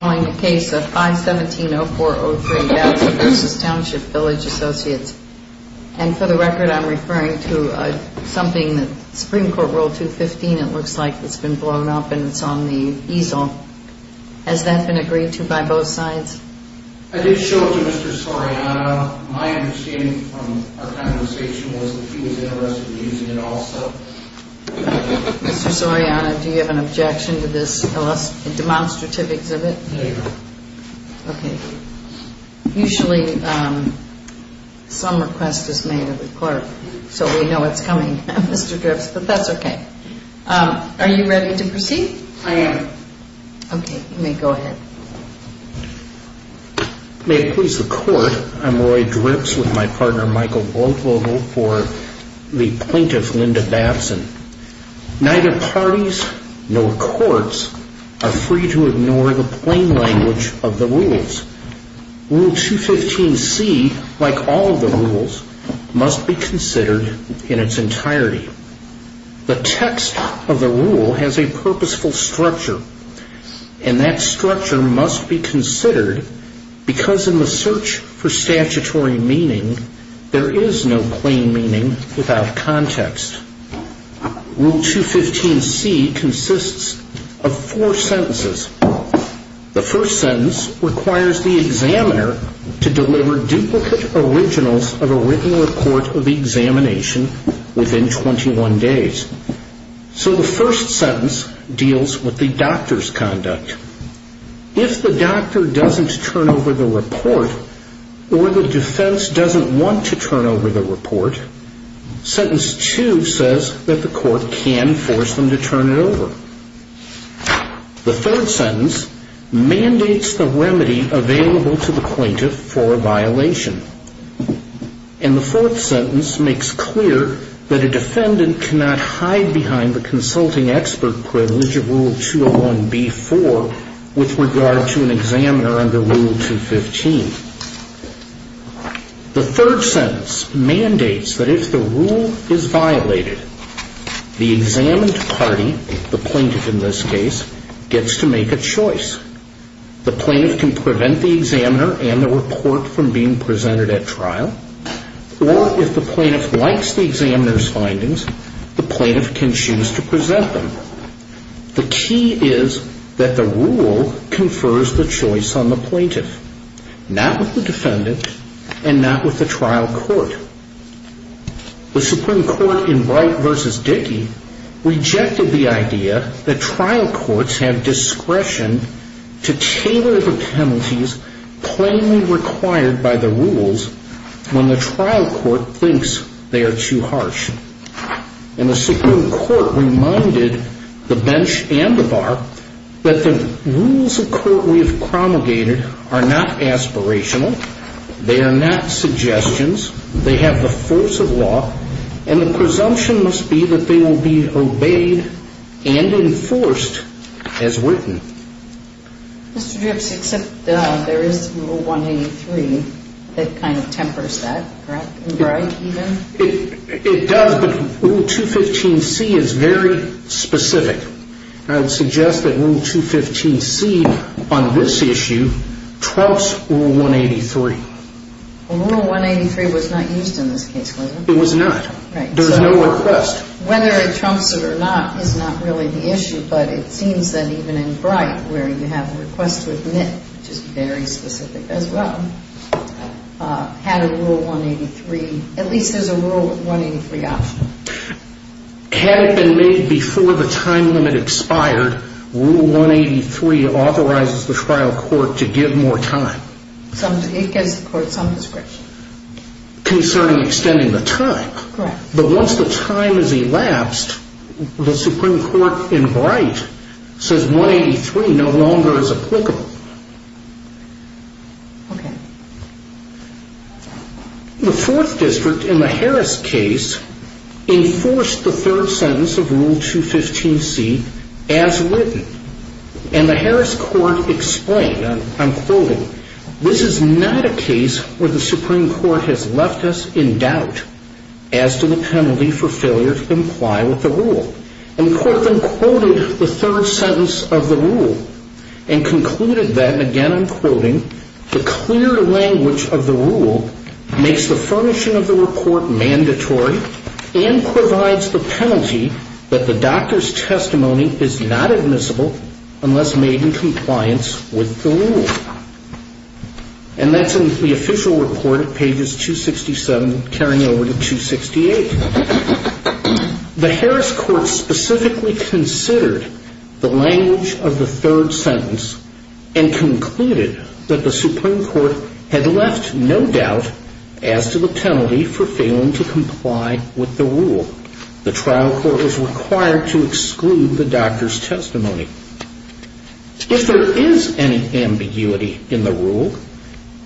I'm calling the case of 517-0403 Batson v. Township Village Associates. And for the record, I'm referring to something that Supreme Court Rule 215, it looks like, that's been blown up and it's on the easel. Has that been agreed to by both sides? I did show it to Mr. Soriano. My understanding from our conversation was that he was interested in using it also. Mr. Soriano, do you have an objection to this demonstrative exhibit? No. Okay. Usually some request is made of the court, so we know it's coming, Mr. Dripps, but that's okay. Are you ready to proceed? I am. Okay, you may go ahead. May it please the court, I'm Roy Dripps with my partner Michael Blodvogel for the plaintiff, Linda Batson. Neither parties nor courts are free to ignore the plain language of the rules. Rule 215C, like all the rules, must be considered in its entirety. The text of the rule has a purposeful structure, and that structure must be considered because in the search for statutory meaning, there is no plain meaning without context. Rule 215C consists of four sentences. The first sentence requires the examiner to deliver duplicate originals of a written report of the examination within 21 days. So the first sentence deals with the doctor's conduct. If the doctor doesn't turn over the report, or the defense doesn't want to turn over the report, sentence two says that the court can force them to turn it over. The third sentence mandates the remedy available to the plaintiff for a violation. And the fourth sentence makes clear that a defendant cannot hide behind the consulting expert privilege of Rule 201B-4 with regard to an examiner under Rule 215. The third sentence mandates that if the rule is violated, the examined party, the plaintiff in this case, gets to make a choice. The plaintiff can prevent the examiner and the report from being presented at trial, or if the plaintiff likes the examiner's findings, the plaintiff can choose to present them. The key is that the rule confers the choice on the plaintiff. Not with the defendant, and not with the trial court. The Supreme Court in Wright v. Dickey rejected the idea that trial courts have discretion to tailor the penalties plainly required by the rules when the trial court thinks they are too harsh. And the Supreme Court reminded the bench and the bar that the rules of court we have promulgated are not aspirational, they are not suggestions, they have the force of law, and the presumption must be that they will be obeyed and enforced as written. Mr. Dripps, except there is Rule 183 that kind of tempers that, correct, in Bright even? It does, but Rule 215C is very specific. I would suggest that Rule 215C on this issue trumps Rule 183. Rule 183 was not used in this case, was it? It was not. There was no request. Whether it trumps it or not is not really the issue, but it seems that even in Bright, where you have a request to admit, which is very specific as well, had a Rule 183, at least there's a Rule 183 option. Had it been made before the time limit expired, Rule 183 authorizes the trial court to give more time. It gives the court some discretion. Concerning extending the time. Correct. But once the time has elapsed, the Supreme Court in Bright says 183 no longer is applicable. Okay. The Fourth District in the Harris case enforced the third sentence of Rule 215C as written. And the Harris court explained, I'm quoting, This is not a case where the Supreme Court has left us in doubt as to the penalty for failure to comply with the rule. And the court then quoted the third sentence of the rule and concluded that, and again I'm quoting, And that's in the official report at pages 267, carrying over to 268. The Harris court specifically considered the language of the third sentence and concluded that it is not a case where the Supreme Court has left us in doubt as to the penalty for failure to comply with the rule. The trial court is required to exclude the doctor's testimony. If there is any ambiguity in the rule,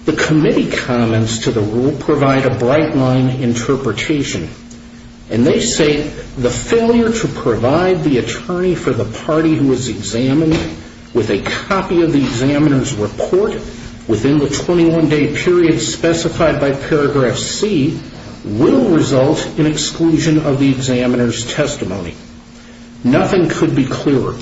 the committee comments to the rule provide a bright line interpretation. And they say the failure to provide the attorney for the party who is examined with a copy of the examiner's report is not a case where the Supreme Court has left us in doubt as to the penalty for failure to comply with the rule. Within the 21 day period specified by paragraph C will result in exclusion of the examiner's testimony. Nothing could be clearer.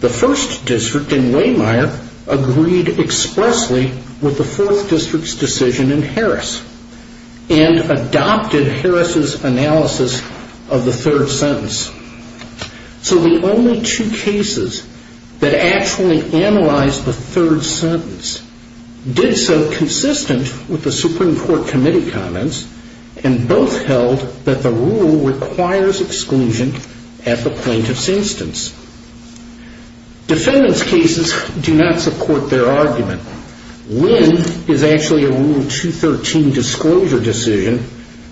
The first district in Waymire agreed expressly with the fourth district's decision in Harris and adopted Harris' analysis of the third sentence. So the only two cases that actually analyzed the third sentence did so consistent with the Supreme Court committee comments and both held that the rule requires exclusion at the plaintiff's instance. Defendant's cases do not support their argument. Win is actually a Rule 213 disclosure decision,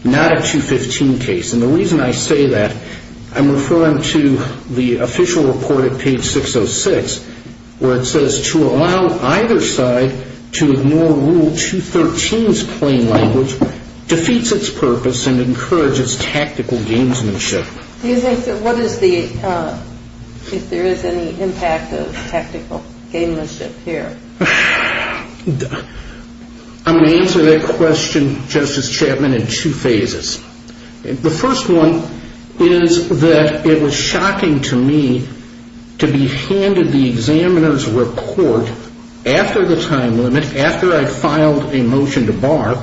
not a 215 case. And the reason I say that, I'm referring to the official report at page 606 where it says to allow either side to ignore Rule 213's plain language defeats its purpose and encourages tactical gamesmanship. Do you think that what is the, if there is any impact of tactical gamesmanship here? I'm going to answer that question, Justice Chapman, in two phases. The first one is that it was shocking to me to be handed the examiner's report after the time limit, after I filed a motion to bar,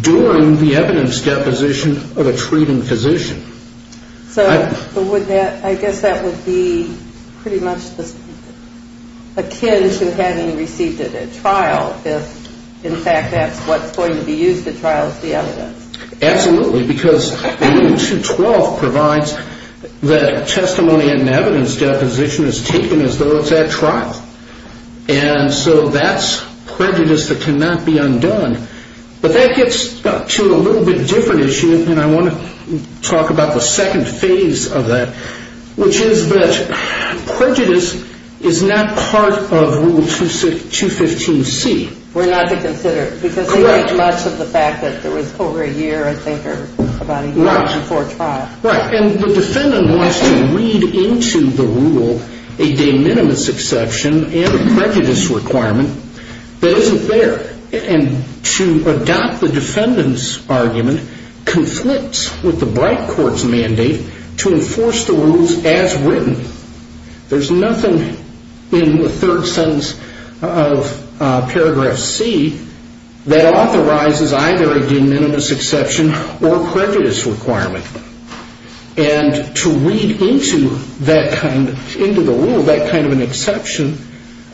during the evidence deposition of a treating physician. So would that, I guess that would be pretty much akin to having received it at trial if in fact that's what's going to be used at trial is the evidence. Absolutely, because Rule 212 provides that testimony and evidence deposition is taken as though it's at trial. And so that's prejudice that cannot be undone. But that gets to a little bit different issue, and I want to talk about the second phase of that, which is that prejudice is not part of Rule 215C. We're not to consider it, because much of the fact that there was over a year, I think, or about a year before trial. Right, and the defendant wants to read into the rule a de minimis exception and a prejudice requirement that isn't there. And to adopt the defendant's argument conflicts with the bright court's mandate to enforce the rules as written. There's nothing in the third sentence of Paragraph C that authorizes either a de minimis exception or prejudice requirement. And to read into the rule that kind of an exception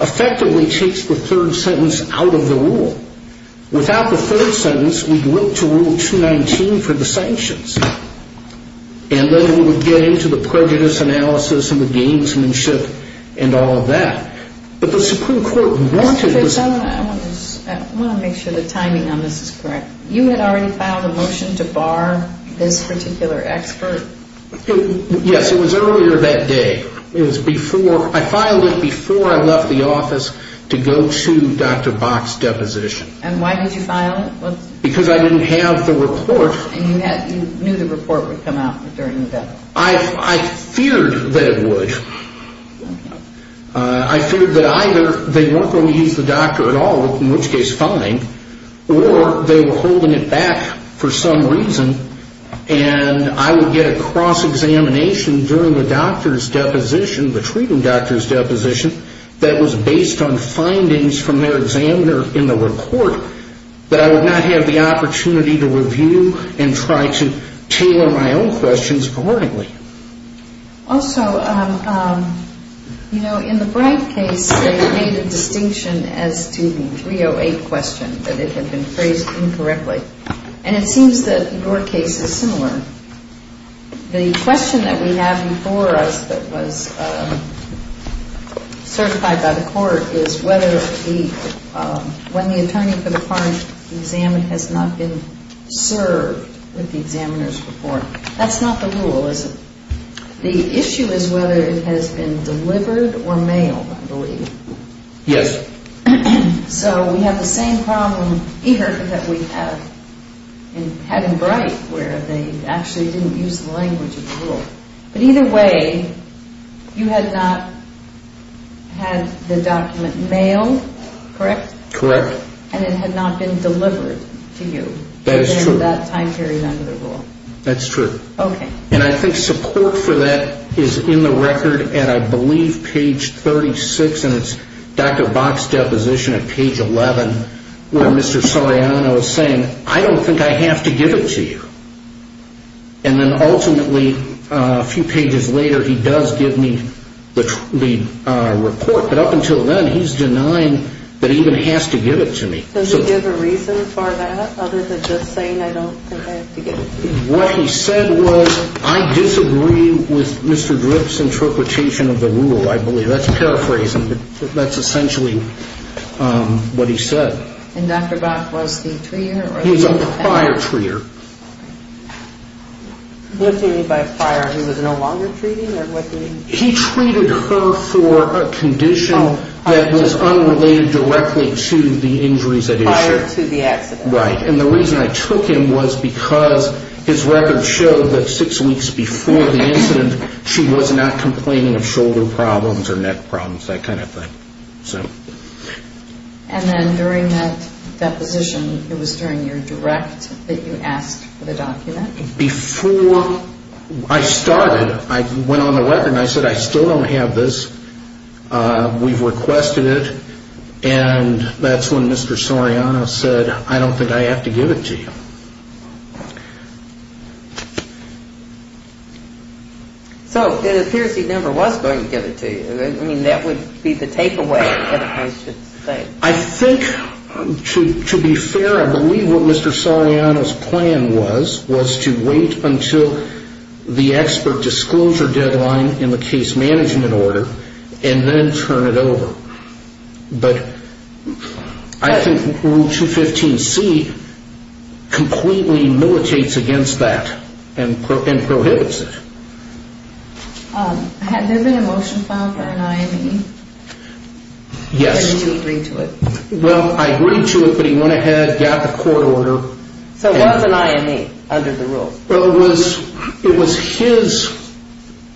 effectively takes the third sentence out of the rule. Without the third sentence, we'd look to Rule 219 for the sanctions. And then we would get into the prejudice analysis and the gamesmanship and all of that. But the Supreme Court wanted... Mr. Fitz, I want to make sure the timing on this is correct. You had already filed a motion to bar this particular expert? Yes, it was earlier that day. It was before, I filed it before I left the office to go to Dr. Bach's deposition. And why did you file it? Because I didn't have the report. And you knew the report would come out during the deposition? I feared that it would. I feared that either they weren't going to use the doctor at all, in which case fine, or they were holding it back for some reason, and I would get a cross-examination during the doctor's deposition, the treating doctor's deposition, that was based on findings from their examiner in the report, that I would not have the opportunity to review and try to tailor my own questions accordingly. Also, you know, in the Bright case they made a distinction as to the 308 question, that it had been phrased incorrectly. And it seems that your case is similar. The question that we have before us that was certified by the court is whether the... has not been served with the examiner's report. That's not the rule, is it? The issue is whether it has been delivered or mailed, I believe. Yes. So we have the same problem here that we had in Bright, where they actually didn't use the language of the rule. But either way, you had not had the document mailed, correct? Correct. And it had not been delivered to you. That is true. And that time carried under the rule. That's true. Okay. And I think support for that is in the record, and I believe page 36, and it's Dr. Bach's deposition at page 11, where Mr. Soriano is saying, I don't think I have to give it to you. And then ultimately, a few pages later, he does give me the report. But up until then, he's denying that he even has to give it to me. Does he give a reason for that other than just saying, I don't think I have to give it to you? What he said was, I disagree with Mr. Drip's interpretation of the rule, I believe. That's paraphrasing, but that's essentially what he said. And Dr. Bach was the treater? He was a prior treater. What do you mean by prior? He was no longer treating, or what do you mean? He treated her for a condition that was unrelated directly to the injuries at issue. Prior to the accident. Right. And the reason I took him was because his record showed that six weeks before the incident, she was not complaining of shoulder problems or neck problems, that kind of thing. And then during that deposition, it was during your direct that you asked for the document? Before I started, I went on the record and I said, I still don't have this. We've requested it. And that's when Mr. Soriano said, I don't think I have to give it to you. So it appears he never was going to give it to you. I mean, that would be the takeaway. I think, to be fair, I believe what Mr. Soriano's plan was, was to wait until the expert disclosure deadline in the case management order and then turn it over. But I think Rule 215C completely militates against that and prohibits it. Had there been a motion filed for an IME? Yes. Did you agree to it? Well, I agreed to it, but he went ahead, got the court order. So it was an IME under the rules? Well, it was his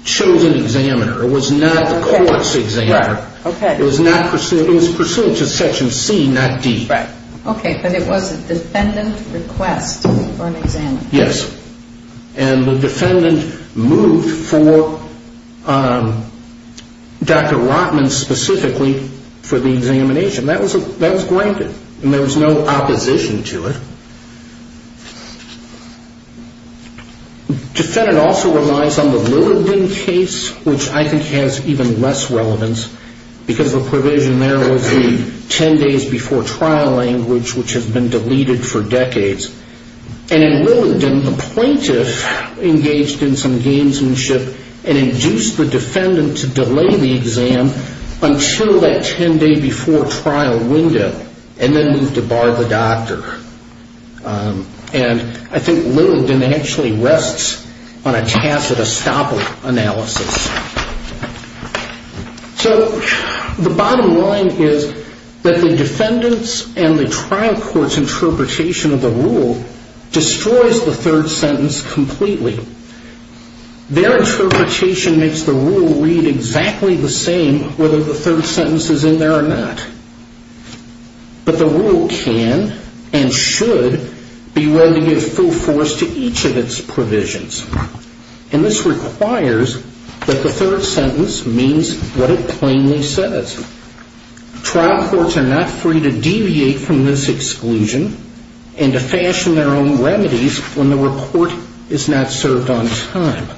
chosen examiner. It was not the court's examiner. Right. Okay. It was pursuant to Section C, not D. Right. Okay, but it was a defendant request for an exam. Yes. And the defendant moved for Dr. Rotman specifically for the examination. That was granted, and there was no opposition to it. Defendant also relies on the Lillardon case, which I think has even less relevance, because the provision there was the 10 days before trial language, which has been deleted for decades. And in Lillardon, the plaintiff engaged in some gamesmanship and induced the defendant to delay the exam until that 10-day-before-trial window and then moved to bar the doctor. And I think Lillardon actually rests on a tacit estoppel analysis. So the bottom line is that the defendant's and the trial court's interpretation of the rule destroys the third sentence completely. Their interpretation makes the rule read exactly the same whether the third sentence is in there or not. But the rule can and should be read to give full force to each of its provisions. And this requires that the third sentence means what it plainly says. Trial courts are not free to deviate from this exclusion and to fashion their own remedies when the report is not served on time.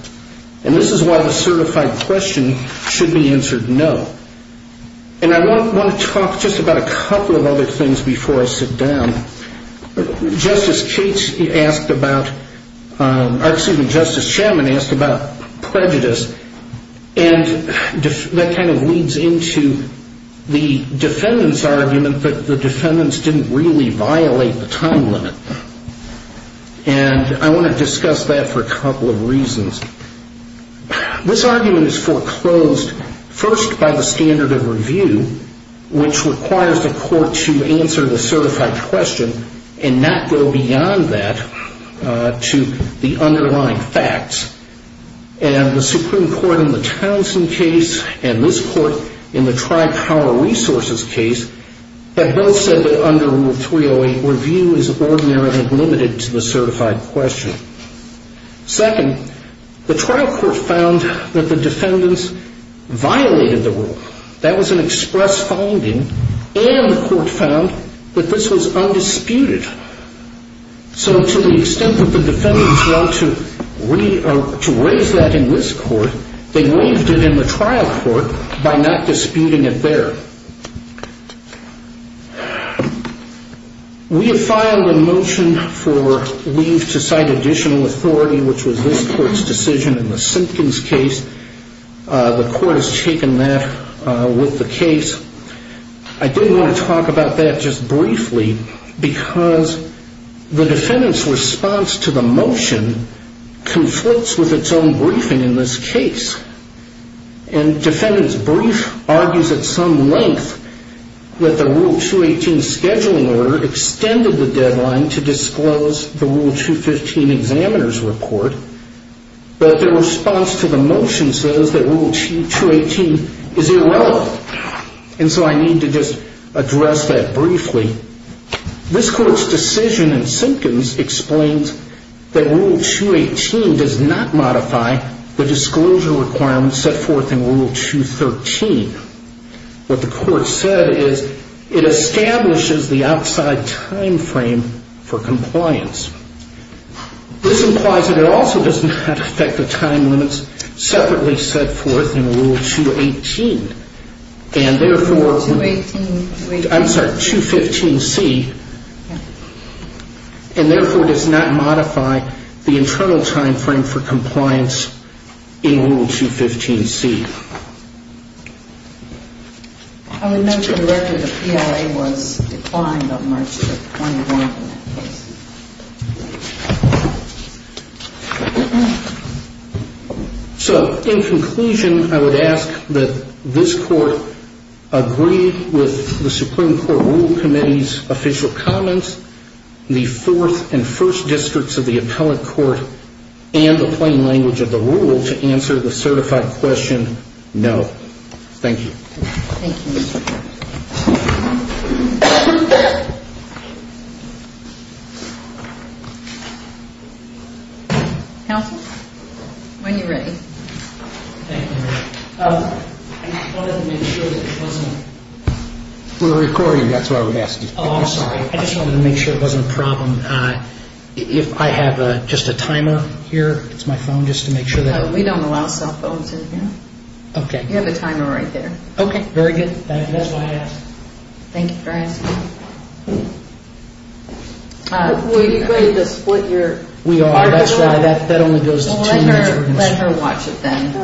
And this is why the certified question should be answered no. And I want to talk just about a couple of other things before I sit down. Justice Shemin asked about prejudice, and that kind of leads into the defendant's argument that the defendants didn't really violate the time limit. And I want to discuss that for a couple of reasons. This argument is foreclosed first by the standard of review, which requires the court to answer the certified question and not go beyond that to the underlying facts. And the Supreme Court in the Townsend case and this court in the Tri-Power Resources case have both said that under Rule 308, review is ordinary and limited to the certified question. Second, the trial court found that the defendants violated the rule. That was an express finding. And the court found that this was undisputed. So to the extent that the defendants want to raise that in this court, they waived it in the trial court by not disputing it there. We have filed a motion for leave to cite additional authority, which was this court's decision in the Simpkins case. The court has taken that with the case. I did want to talk about that just briefly because the defendant's response to the motion conflicts with its own briefing in this case. And defendant's brief argues at some length that the Rule 218 scheduling order extended the deadline to disclose the Rule 215 examiner's report, but their response to the motion says that Rule 218 is irrelevant. And so I need to just address that briefly. This court's decision in Simpkins explains that Rule 218 does not modify the disclosure requirements set forth in Rule 213. What the court said is it establishes the outside timeframe for compliance. This implies that it also does not affect the time limits separately set forth in Rule 218. And therefore, I'm sorry, 215C, and therefore does not modify the internal timeframe for compliance in Rule 215C. I would note that the record of PLA was declined on March the 21st in that case. So, in conclusion, I would ask that this court agree with the Supreme Court Rule Committee's official comments, the Fourth and First Districts of the Appellate Court, and the plain language of the Rule to answer the certified question, no. Thank you. Thank you, Mr. Chairman. Counsel? When you're ready. Thank you. I just wanted to make sure that it wasn't... We're recording, that's why we're asking. I just wanted to make sure it wasn't a problem. I have just a timer here. It's my phone, just to make sure that... We don't allow cell phones in here. Okay. You have a timer right there. Okay, very good. Thank you. That's why I asked. Thank you for asking. Will you be ready to split your... We are. That's why. That only goes to two major... Well, let her watch it then.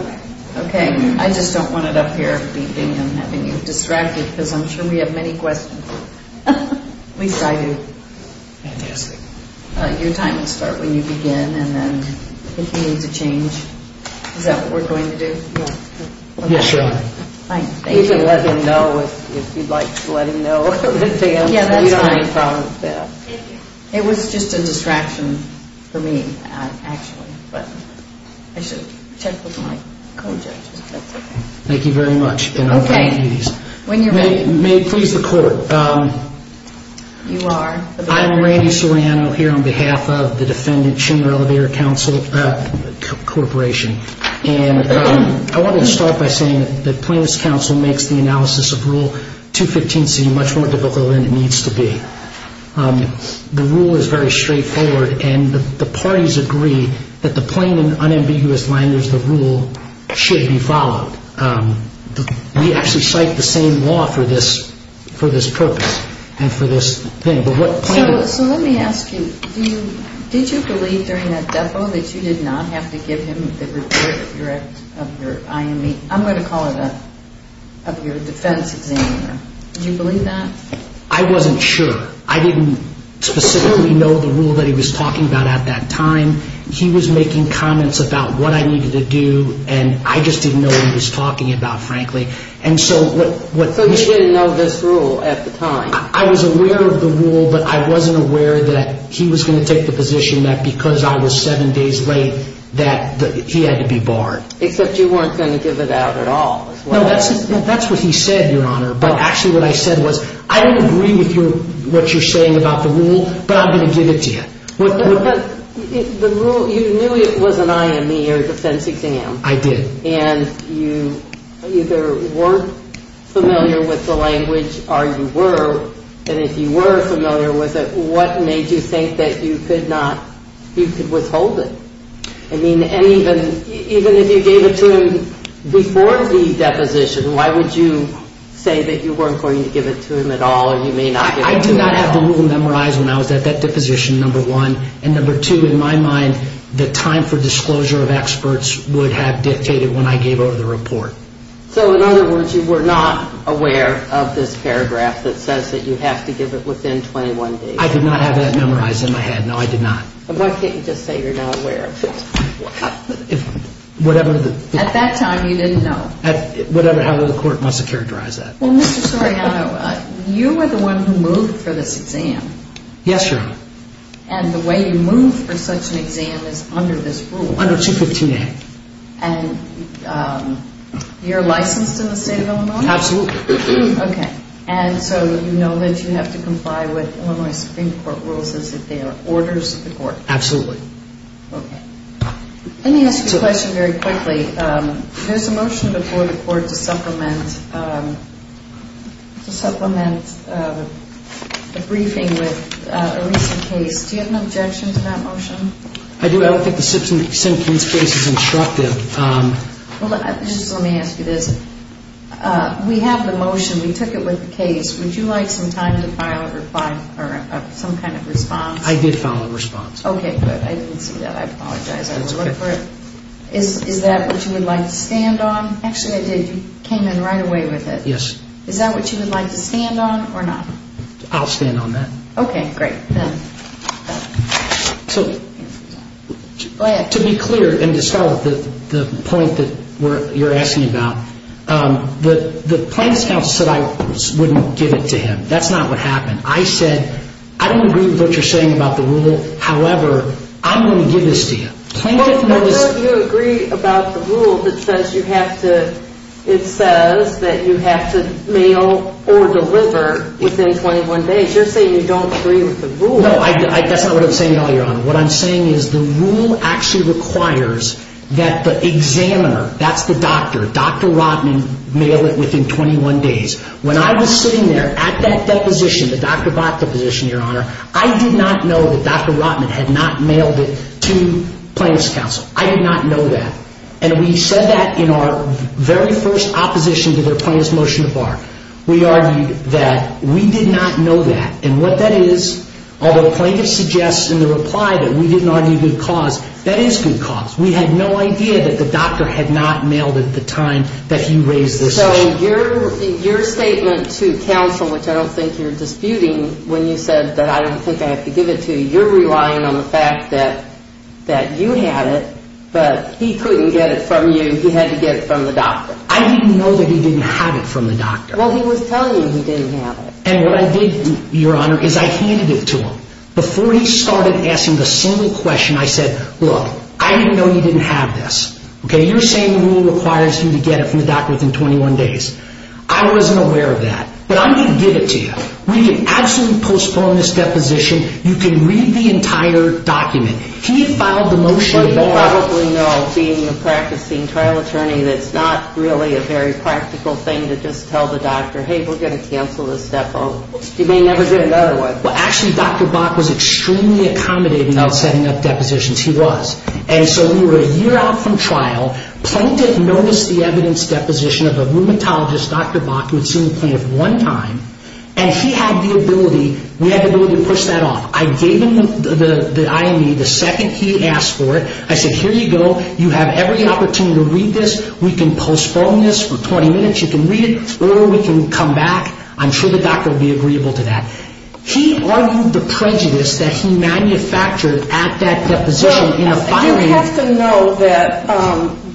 Okay. I just don't want it up here, me being and having you distracted, because I'm sure we have many questions. At least I do. Fantastic. Your time will start when you begin, and then if you need to change... Is that what we're going to do? Yeah. Yeah, sure. Fine, thank you. You can let him know if you'd like to let him know. Yeah, that's fine. You don't have any problem with that. Thank you. It was just a distraction for me, actually, but I should check with my co-judges, if that's okay. Thank you very much. Okay. May it please the Court. You are. I'm Randy Soriano here on behalf of the defendant, Chinner Elevator Corporation, and I want to start by saying that Plaintiff's Counsel makes the analysis of Rule 215C much more difficult than it needs to be. The rule is very straightforward, and the parties agree that the plain and unambiguous line is the rule should be followed. We actually cite the same law for this purpose and for this thing. So let me ask you, did you believe during that depo that you did not have to give him the report of your IME? I'm going to call it your defense examiner. Did you believe that? I wasn't sure. I didn't specifically know the rule that he was talking about at that time. He was making comments about what I needed to do, and I just didn't know what he was talking about, frankly. So you didn't know this rule at the time. I was aware of the rule, but I wasn't aware that he was going to take the position that because I was seven days late that he had to be barred. Except you weren't going to give it out at all. No, that's what he said, Your Honor. But actually what I said was, I don't agree with what you're saying about the rule, but I'm going to give it to you. You knew it was an IME or defense exam. I did. And you either weren't familiar with the language or you were, and if you were familiar with it, what made you think that you could withhold it? I mean, even if you gave it to him before the deposition, why would you say that you weren't going to give it to him at all or you may not give it to him at all? I did not have the rule memorized when I was at that deposition, number one. And number two, in my mind, the time for disclosure of experts would have dictated when I gave over the report. So in other words, you were not aware of this paragraph that says that you have to give it within 21 days. I did not have that memorized in my head. No, I did not. Why can't you just say you're not aware of it? At that time, you didn't know. However the court must have characterized that. Well, Mr. Soriano, you were the one who moved for this exam. Yes, Your Honor. And the way you moved for such an exam is under this rule. Under 215A. And you're licensed in the state of Illinois? Absolutely. Okay. And so you know that you have to comply with Illinois Supreme Court rules as if they are orders of the court. Absolutely. Okay. Let me ask you a question very quickly. There's a motion before the court to supplement a briefing with a recent case. Do you have an objection to that motion? I do. I don't think the Simpson case is instructive. Well, just let me ask you this. We have the motion. We took it with the case. Would you like some time to file a reply or some kind of response? Okay. Good. I didn't see that. I apologize. I was looking for it. Is that what you would like to stand on? Actually, I did. You came in right away with it. Yes. Is that what you would like to stand on or not? I'll stand on that. Okay. Great. So to be clear and to start with the point that you're asking about, the plaintiff's counsel said I wouldn't give it to him. That's not what happened. I said, I don't agree with what you're saying about the rule. However, I'm going to give this to you. Well, don't you agree about the rule that says you have to mail or deliver within 21 days? You're saying you don't agree with the rule. No, that's not what I'm saying at all, Your Honor. What I'm saying is the rule actually requires that the examiner, that's the doctor, Dr. Rotman, mail it within 21 days. When I was sitting there at that deposition, the Dr. Bott deposition, Your Honor, I did not know that Dr. Rotman had not mailed it to plaintiff's counsel. I did not know that. And we said that in our very first opposition to their plaintiff's motion to bar. We argued that we did not know that. And what that is, although the plaintiff suggests in the reply that we didn't argue good cause, that is good cause. We had no idea that the doctor had not mailed it at the time that you raised this issue. So your statement to counsel, which I don't think you're disputing, when you said that I don't think I have to give it to you, you're relying on the fact that you had it, but he couldn't get it from you. He had to get it from the doctor. I didn't know that he didn't have it from the doctor. Well, he was telling you he didn't have it. And what I did, Your Honor, is I handed it to him. Before he started asking the single question, I said, look, I didn't know you didn't have this. You're saying the rule requires you to get it from the doctor within 21 days. I wasn't aware of that. But I'm going to give it to you. We absolutely postpone this deposition. You can read the entire document. He filed the motion. But you probably know, being a practicing trial attorney, that's not really a very practical thing to just tell the doctor, hey, we're going to cancel this step. You may never do another one. Well, actually, Dr. Bach was extremely accommodating about setting up depositions. He was. And so we were a year out from trial. Plaintiff noticed the evidence deposition of a rheumatologist, Dr. Bach, who had seen the plaintiff one time. And he had the ability, we had the ability to push that off. I gave him the IME the second he asked for it. I said, here you go. You have every opportunity to read this. We can postpone this for 20 minutes. You can read it, or we can come back. I'm sure the doctor will be agreeable to that. He argued the prejudice that he manufactured at that deposition in a filing. You have to know that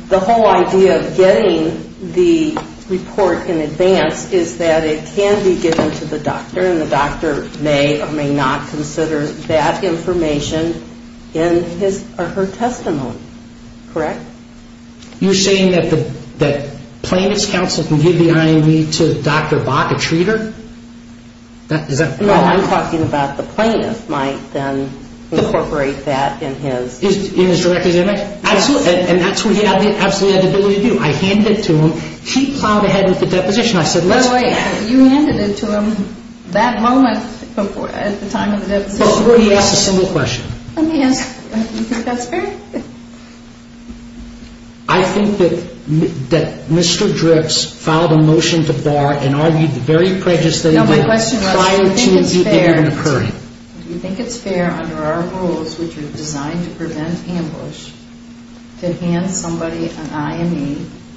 the whole idea of getting the report in advance is that it can be given to the doctor, and the doctor may or may not consider that information in his or her testimony. Correct? You're saying that the plaintiff's counsel can give the IME to Dr. Bach, a treater? No, I'm talking about the plaintiff might then incorporate that in his. In his direct examination? Absolutely. And that's what he absolutely had the ability to do. I handed it to him. He plowed ahead with the deposition. You handed it to him that moment at the time of the deposition. Before he asked a single question. Let me ask you, do you think that's fair? I think that Mr. Dripps filed a motion to Bach and argued the very prejudice that he had prior to it even occurring. Do you think it's fair under our rules, which are designed to prevent ambush, to hand somebody an IME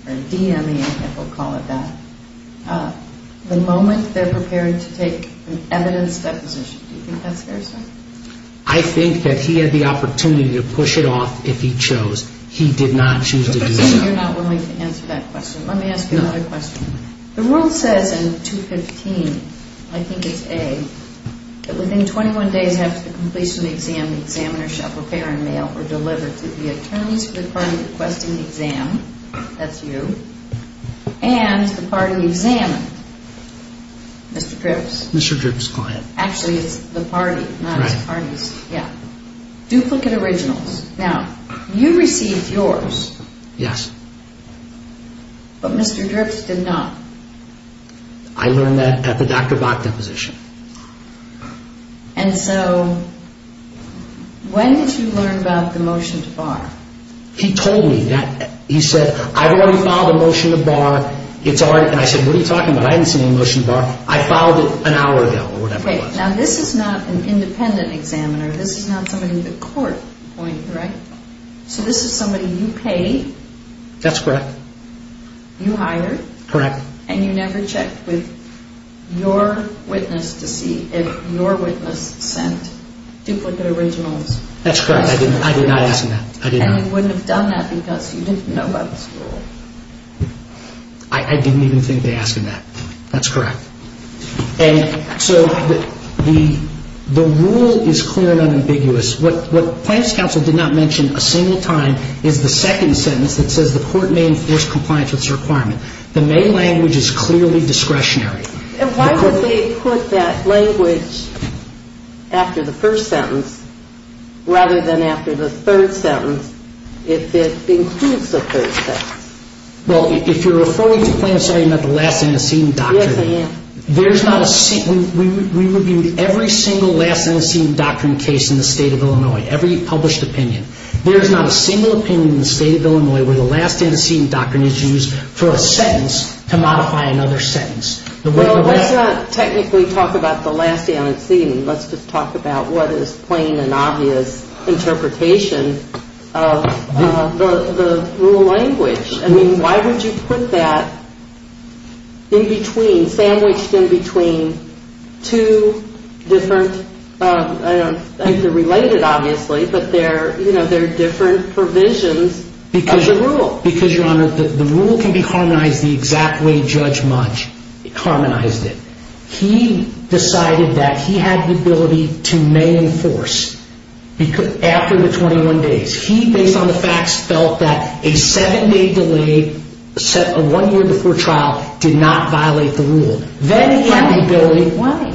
or DME, I think we'll call it that, the moment they're prepared to take an evidence deposition? Do you think that's fair, sir? I think that he had the opportunity to push it off if he chose. He did not choose to do so. You're not willing to answer that question. Let me ask you another question. The rule says in 215, I think it's A, that within 21 days after the completion of the exam, the examiner shall prepare and mail or deliver to the attorneys for the party requesting the exam. That's you. And the party examined. Mr. Dripps. Mr. Dripps' client. Actually, it's the party, not his parties. Right. Yeah. Duplicate originals. Now, you received yours. Yes. But Mr. Dripps did not. I learned that at the Dr. Bach deposition. And so, when did you learn about the motion to Bach? He told me. He said, I've already filed a motion to Bach. It's all right. And I said, what are you talking about? I hadn't seen a motion to Bach. I filed it an hour ago or whatever. Okay. Now, this is not an independent examiner. This is not somebody in the court appointing, right? So, this is somebody you paid. That's correct. You hired. Correct. And you never checked with your witness to see if your witness sent duplicate originals. That's correct. I did not ask them that. And you wouldn't have done that because you didn't know about this rule. I didn't even think they asked him that. That's correct. And so, the rule is clear and unambiguous. What Plaintiff's counsel did not mention a single time is the second sentence that says the court may enforce compliance with this requirement. The main language is clearly discretionary. And why would they put that language after the first sentence rather than after the third sentence if it includes the third sentence? Well, if you're referring to Plaintiff's argument about the last stand and seating doctrine. Yes, I am. We reviewed every single last stand and seating doctrine case in the state of Illinois, every published opinion. There's not a single opinion in the state of Illinois where the last stand and seating doctrine is used for a sentence to modify another sentence. Well, let's not technically talk about the last stand and seating. Let's just talk about what is plain and obvious interpretation of the rule language. I mean, why would you put that in between, sandwiched in between two different, I don't think they're related obviously, but they're different provisions of the rule. Because, Your Honor, the rule can be harmonized the exact way Judge Mudge harmonized it. He decided that he had the ability to may enforce after the 21 days. He, based on the facts, felt that a seven-day delay set a one-year before trial did not violate the rule. Then he had the ability. Why?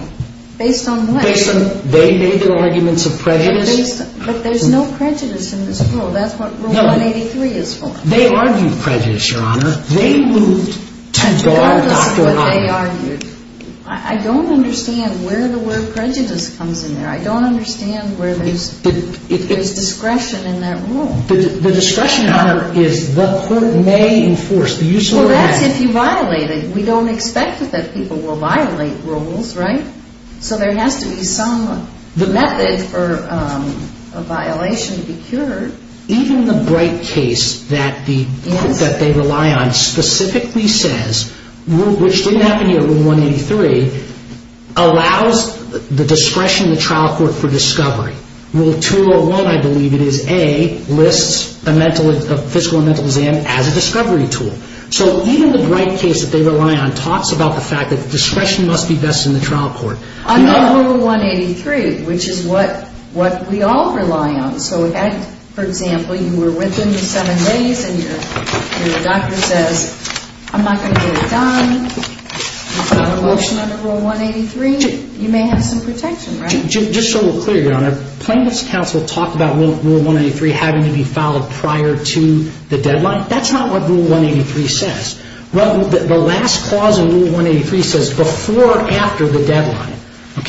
Based on what? They made their arguments of prejudice. But there's no prejudice in this rule. That's what Rule 183 is for. They argued prejudice, Your Honor. Regardless of what they argued. I don't understand where the word prejudice comes in there. I don't understand where there's discretion in that rule. The discretion, Your Honor, is the court may enforce. Well, that's if you violate it. We don't expect that people will violate rules, right? Even the Bright case that they rely on specifically says, which didn't happen here, Rule 183, allows the discretion of the trial court for discovery. Rule 201, I believe it is, A, lists a physical and mental exam as a discovery tool. So even the Bright case that they rely on talks about the fact that the discretion must be best in the trial court. On Rule 183, which is what we all rely on. So if, for example, you were with them the seven days and your doctor says, I'm not going to get it done, you've got a motion under Rule 183, you may have some protection, right? Just so we're clear, Your Honor, plaintiffs' counsel talk about Rule 183 having to be filed prior to the deadline. That's not what Rule 183 says. Well, the last clause in Rule 183 says before or after the deadline.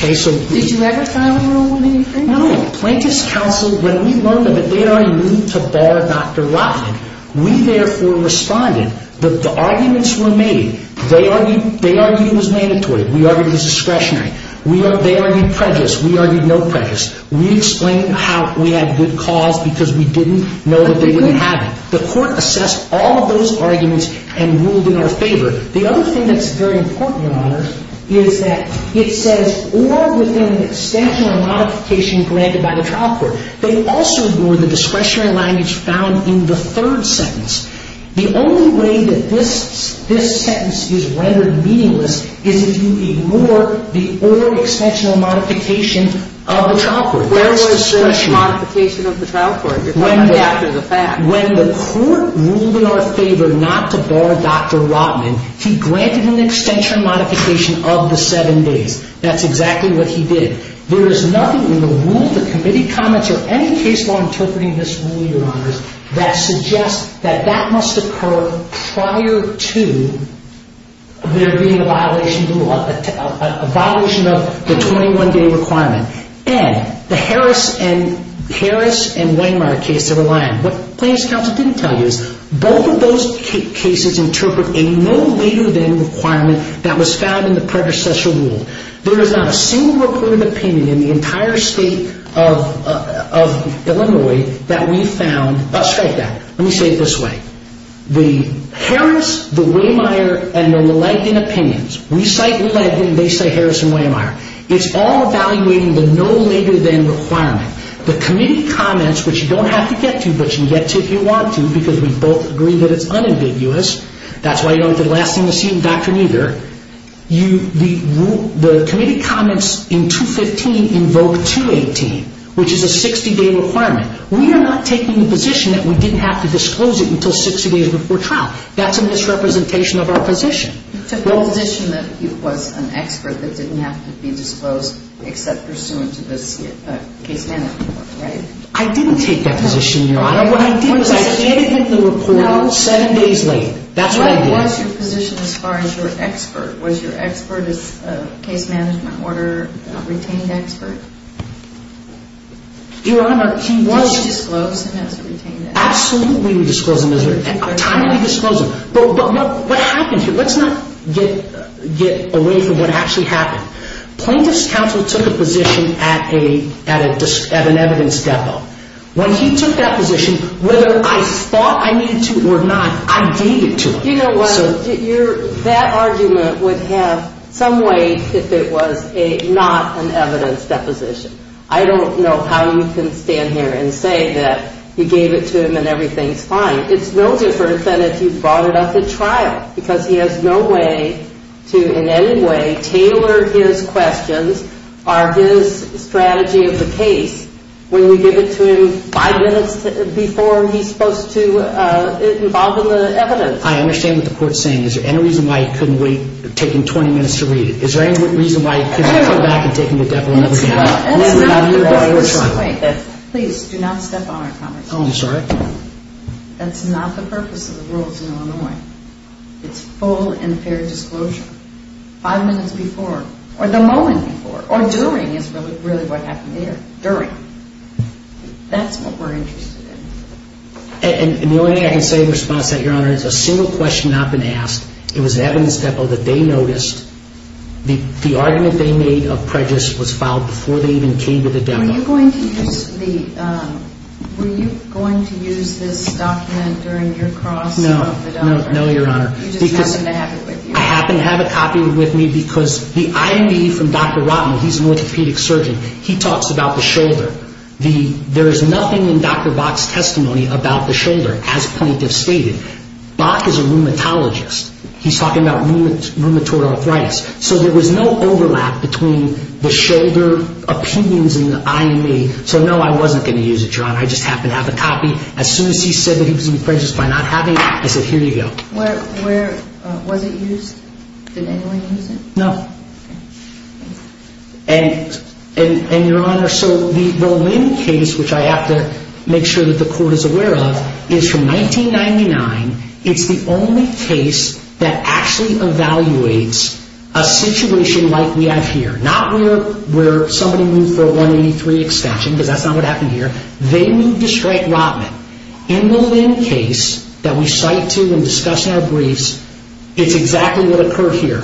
Did you ever file Rule 183? Plaintiffs' counsel, when we learned of it, they are immune to bar Dr. Rotman. We, therefore, responded. The arguments were made. They argued it was mandatory. We argued it was discretionary. They argued prejudice. We argued no prejudice. We explained how we had good cause because we didn't know that they wouldn't have it. The court assessed all of those arguments and ruled in our favor. The other thing that's very important, Your Honor, is that it says or within an extension or modification granted by the trial court. They also ignored the discretionary language found in the third sentence. The only way that this sentence is rendered meaningless is if you ignore the or extension or modification of the trial court. That's discretionary. Where was the modification of the trial court? When the court ruled in our favor not to bar Dr. Rotman, he granted an extension or modification of the seven days. That's exactly what he did. There is nothing in the rule, the committee comments, or any case law interpreting this rule, Your Honors, that suggests that that must occur prior to there being a violation of the 21-day requirement. And the Harris and Wehmeyer case that we're relying on. What the plaintiff's counsel didn't tell you is both of those cases interpret a no later than requirement that was found in the predecessor rule. There is not a single recorded opinion in the entire state of Illinois that we found. I'll strike that. Let me say it this way. The Harris, the Wehmeyer, and the Leiden opinions. We cite Leiden. They cite Harris and Wehmeyer. It's all evaluating the no later than requirement. The committee comments, which you don't have to get to, but you can get to if you want to because we both agree that it's unambiguous. That's why you don't have to last in the scene, Dr. Nieder. The committee comments in 215 invoke 218, which is a 60-day requirement. We are not taking the position that we didn't have to disclose it until 60 days before trial. That's a misrepresentation of our position. You took the position that he was an expert that didn't have to be disclosed except pursuant to this case management order, right? I didn't take that position, Your Honor. I did it with the report seven days later. That's what I did. What was your position as far as your expert? Was your expert as a case management order retained expert? Your Honor, he was. Did you disclose him as a retained expert? Absolutely, we disclosed him as a retained expert. But what happened here? Let's not get away from what actually happened. Plaintiff's counsel took a position at an evidence depot. When he took that position, whether I thought I needed to or not, I gave it to him. You know what? That argument would have some weight if it was not an evidence deposition. I don't know how you can stand here and say that you gave it to him and everything's fine. It's no different than if you brought it up at trial because he has no way to in any way tailor his questions or his strategy of the case when you give it to him five minutes before he's supposed to involve in the evidence. I understand what the court's saying. Is there any reason why he couldn't wait taking 20 minutes to read it? Is there any reason why he couldn't come back and take him to the depot and let him read it? Please do not step on our conversation. Oh, I'm sorry. That's not the purpose of the rules in Illinois. It's full and fair disclosure. Five minutes before or the moment before or during is really what happened there. During. That's what we're interested in. And the only thing I can say in response to that, Your Honor, is a single question not been asked. It was at an evidence depot that they noticed the argument they made of prejudice was filed before they even came to the depot. Were you going to use this document during your cross? No. No, Your Honor. You just happened to have it with you. I happened to have a copy with me because the IME from Dr. Rotman, he's an orthopedic surgeon. He talks about the shoulder. There is nothing in Dr. Bach's testimony about the shoulder, as plaintiffs stated. Bach is a rheumatologist. He's talking about rheumatoid arthritis. So there was no overlap between the shoulder opinions in the IME. So, no, I wasn't going to use it, Your Honor. I just happened to have a copy. As soon as he said that he was in prejudice by not having it, I said, here you go. Was it used? Did anyone use it? No. And, Your Honor, so the Linn case, which I have to make sure that the court is aware of, is from 1999. It's the only case that actually evaluates a situation like we have here. Not where somebody moved for a 183 extension, because that's not what happened here. They moved to strike Rotman. In the Linn case that we cite to and discuss in our briefs, it's exactly what occurred here.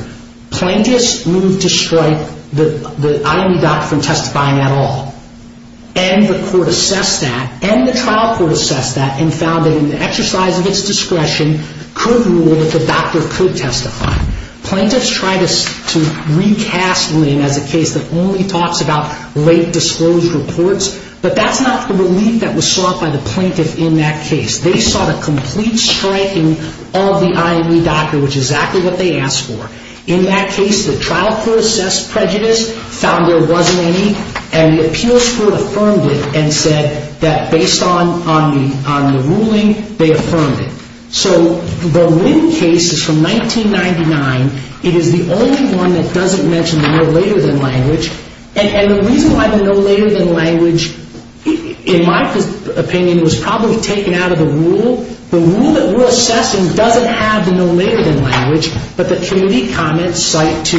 Plaintiffs moved to strike the IME doctor from testifying at all. And the court assessed that, and the trial court assessed that, and found that in the exercise of its discretion could rule that the doctor could testify. Plaintiffs tried to recast Linn as a case that only talks about late disclosed reports, but that's not the relief that was sought by the plaintiff in that case. They sought a complete striking of the IME doctor, which is exactly what they asked for. In that case, the trial court assessed prejudice, found there wasn't any, and the appeals court affirmed it and said that based on the ruling, they affirmed it. So the Linn case is from 1999. It is the only one that doesn't mention the no later than language. And the reason why the no later than language, in my opinion, was probably taken out of the rule. The rule that we're assessing doesn't have the no later than language, but the community comments cite to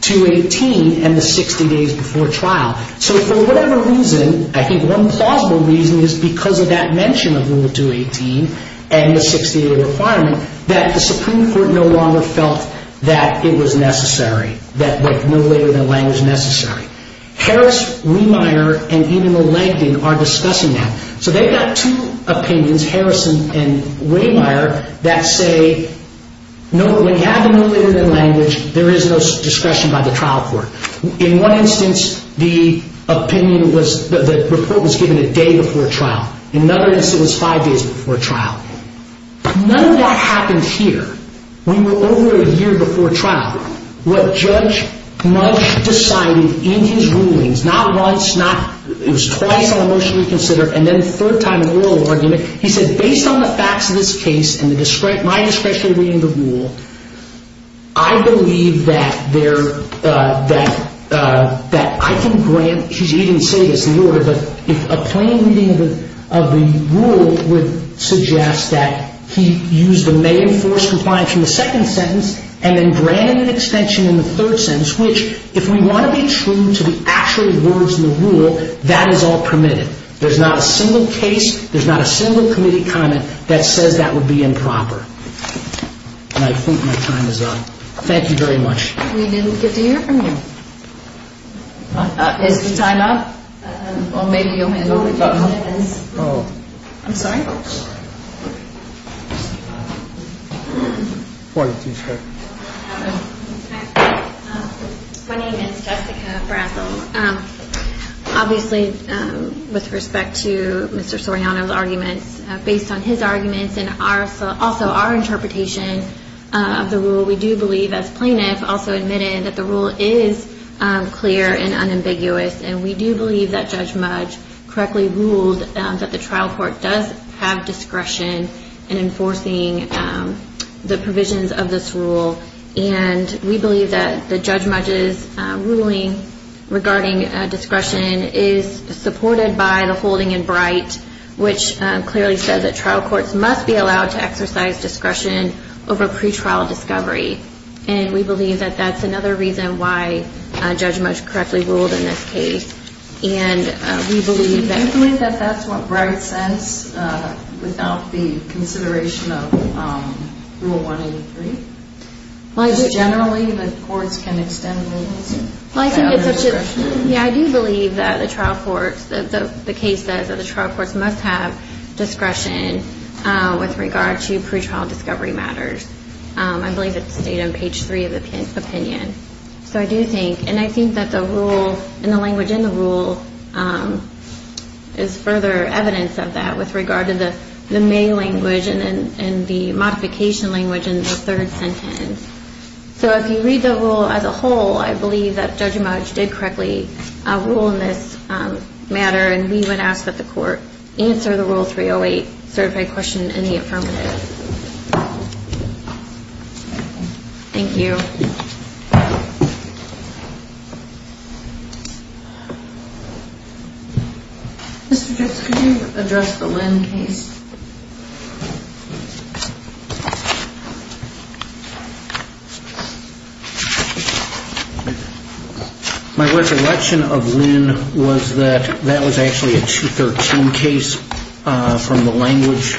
218 and the 60 days before trial. So for whatever reason, I think one plausible reason is because of that mention of Rule 218 and the 60-day requirement that the Supreme Court no longer felt that it was necessary, that the no later than language was necessary. Harris, Wehmeyer, and even the Langton are discussing that. So they've got two opinions, Harris and Wehmeyer, that say no, when you have the no later than language, there is no discretion by the trial court. In one instance, the report was given a day before trial. In another instance, it was five days before trial. None of that happened here. We were over a year before trial. What Judge Mudge decided in his rulings, not once, it was twice on a motion to reconsider, and then a third time in an oral argument, he said, based on the facts of this case and my discretion in reading the rule, I believe that I can grant, he didn't say this in the order, but if a plain reading of the rule would suggest that he used the may enforce compliance in the second sentence and then granted an extension in the third sentence, which if we want to be true to the actual words in the rule, that is all permitted. There's not a single case, there's not a single committee comment that says that would be improper. And I think my time is up. Thank you very much. We didn't get to hear from you. Is the time up? Or maybe you'll hand it over. I'm sorry? My name is Jessica Brassel. Obviously with respect to Mr. Soriano's arguments, based on his arguments and also our interpretation of the rule, we do believe as plaintiffs also admitted that the rule is clear and unambiguous, and we do believe that Judge Mudge correctly ruled that the trial court does have discretion in enforcing the provisions of this rule, and we believe that Judge Mudge's ruling regarding discretion is supported by the holding in bright, which clearly says that trial courts must be allowed to exercise discretion over pretrial discovery, and we believe that that's another reason why Judge Mudge correctly ruled in this case. Do you believe that that's what Bright says without the consideration of Rule 183? Just generally that courts can extend rulings without discretion? Yeah, I do believe that the case says that the trial courts must have discretion with regard to pretrial discovery matters. I believe it's stated on page 3 of the opinion. So I do think, and I think that the rule and the language in the rule is further evidence of that with regard to the main language and the modification language in the third sentence. So if you read the rule as a whole, I believe that Judge Mudge did correctly rule in this matter, and we would ask that the court answer the Rule 308 certified question in the affirmative. Thank you. Mr. Dix, could you address the Lynn case? My recollection of Lynn was that that was actually a 213 case from the language.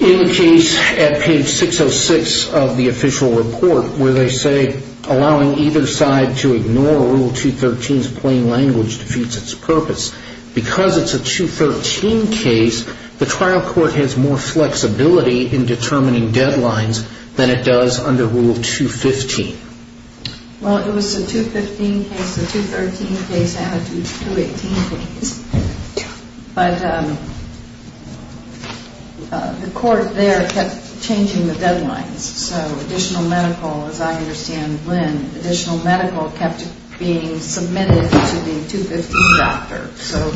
In the case at page 606 of the official report where they say, allowing either side to ignore Rule 213's plain language defeats its purpose, because it's a 213 case, the trial court has more flexibility in determining deadlines than it does under Rule 215. Well, it was a 215 case, a 213 case, and a 218 case. But the court there kept changing the deadlines. So additional medical, as I understand Lynn, additional medical kept being submitted to the 215 doctor. So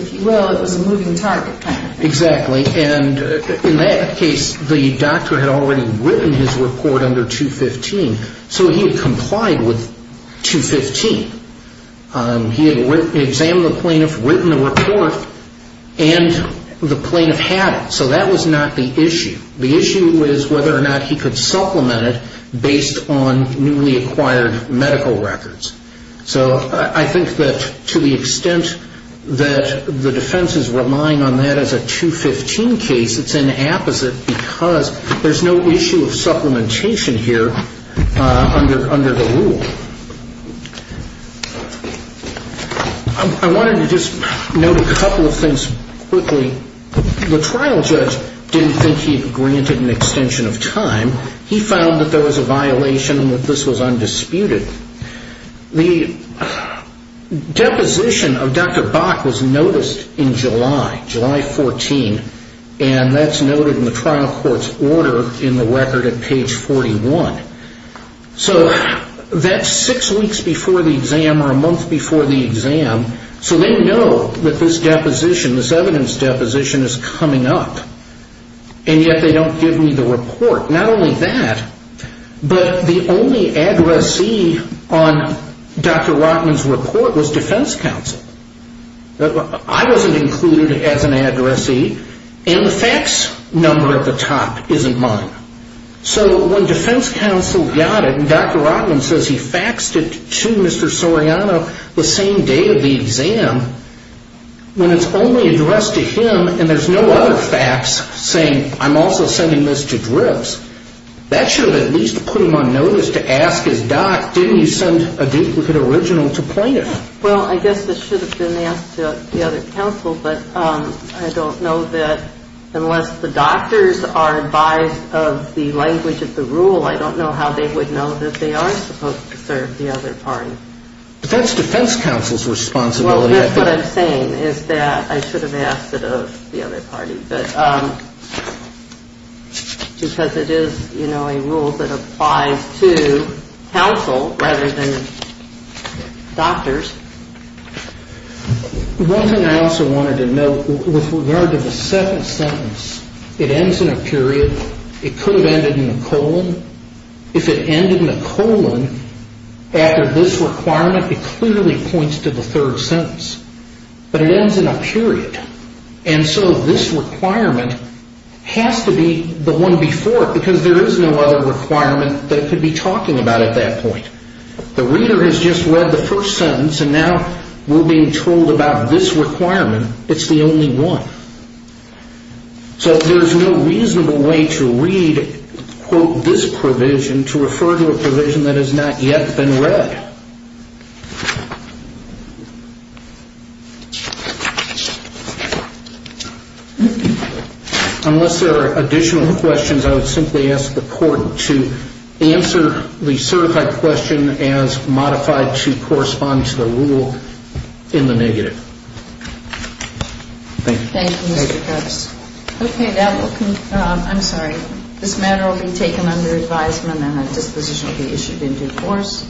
if you will, it was a moving target kind of thing. Exactly. And in that case, the doctor had already written his report under 215, so he had complied with 215. He had examined the plaintiff, written the report, and the plaintiff had it. So that was not the issue. The issue was whether or not he could supplement it based on newly acquired medical records. So I think that to the extent that the defense is relying on that as a 215 case, it's an apposite because there's no issue of supplementation here under the rule. I wanted to just note a couple of things quickly. The trial judge didn't think he had granted an extension of time. He found that there was a violation and that this was undisputed. The deposition of Dr. Bach was noticed in July, July 14, and that's noted in the trial court's order in the record at page 41. So that's six weeks before the exam or a month before the exam, so they know that this deposition, this evidence deposition is coming up, and yet they don't give me the report. Not only that, but the only addressee on Dr. Rotman's report was defense counsel. I wasn't included as an addressee, and the fax number at the top isn't mine. So when defense counsel got it, and Dr. Rotman says he faxed it to Mr. Soriano the same day of the exam, when it's only addressed to him and there's no other fax saying I'm also sending this to Dripps, that should have at least put him on notice to ask his doc, didn't you send a duplicate original to plaintiff? Well, I guess this should have been asked to the other counsel, but I don't know that unless the doctors are advised of the language of the rule, I don't know how they would know that they are supposed to serve the other party. But that's defense counsel's responsibility. Well, that's what I'm saying is that I should have asked it of the other party, because it is a rule that applies to counsel rather than doctors. One thing I also wanted to note with regard to the second sentence, it ends in a period. It could have ended in a colon. If it ended in a colon after this requirement, it clearly points to the third sentence. But it ends in a period, and so this requirement has to be the one before it, because there is no other requirement that it could be talking about at that point. The reader has just read the first sentence, and now we're being told about this requirement, it's the only one. So there's no reasonable way to read, quote, this provision to refer to a provision that has not yet been read. Unless there are additional questions, I would simply ask the court to answer the certified question as modified to correspond to the rule in the negative. Thank you. Thank you, Mr. Coates. Okay. I'm sorry. This matter will be taken under advisement, and a disposition will be issued in due course.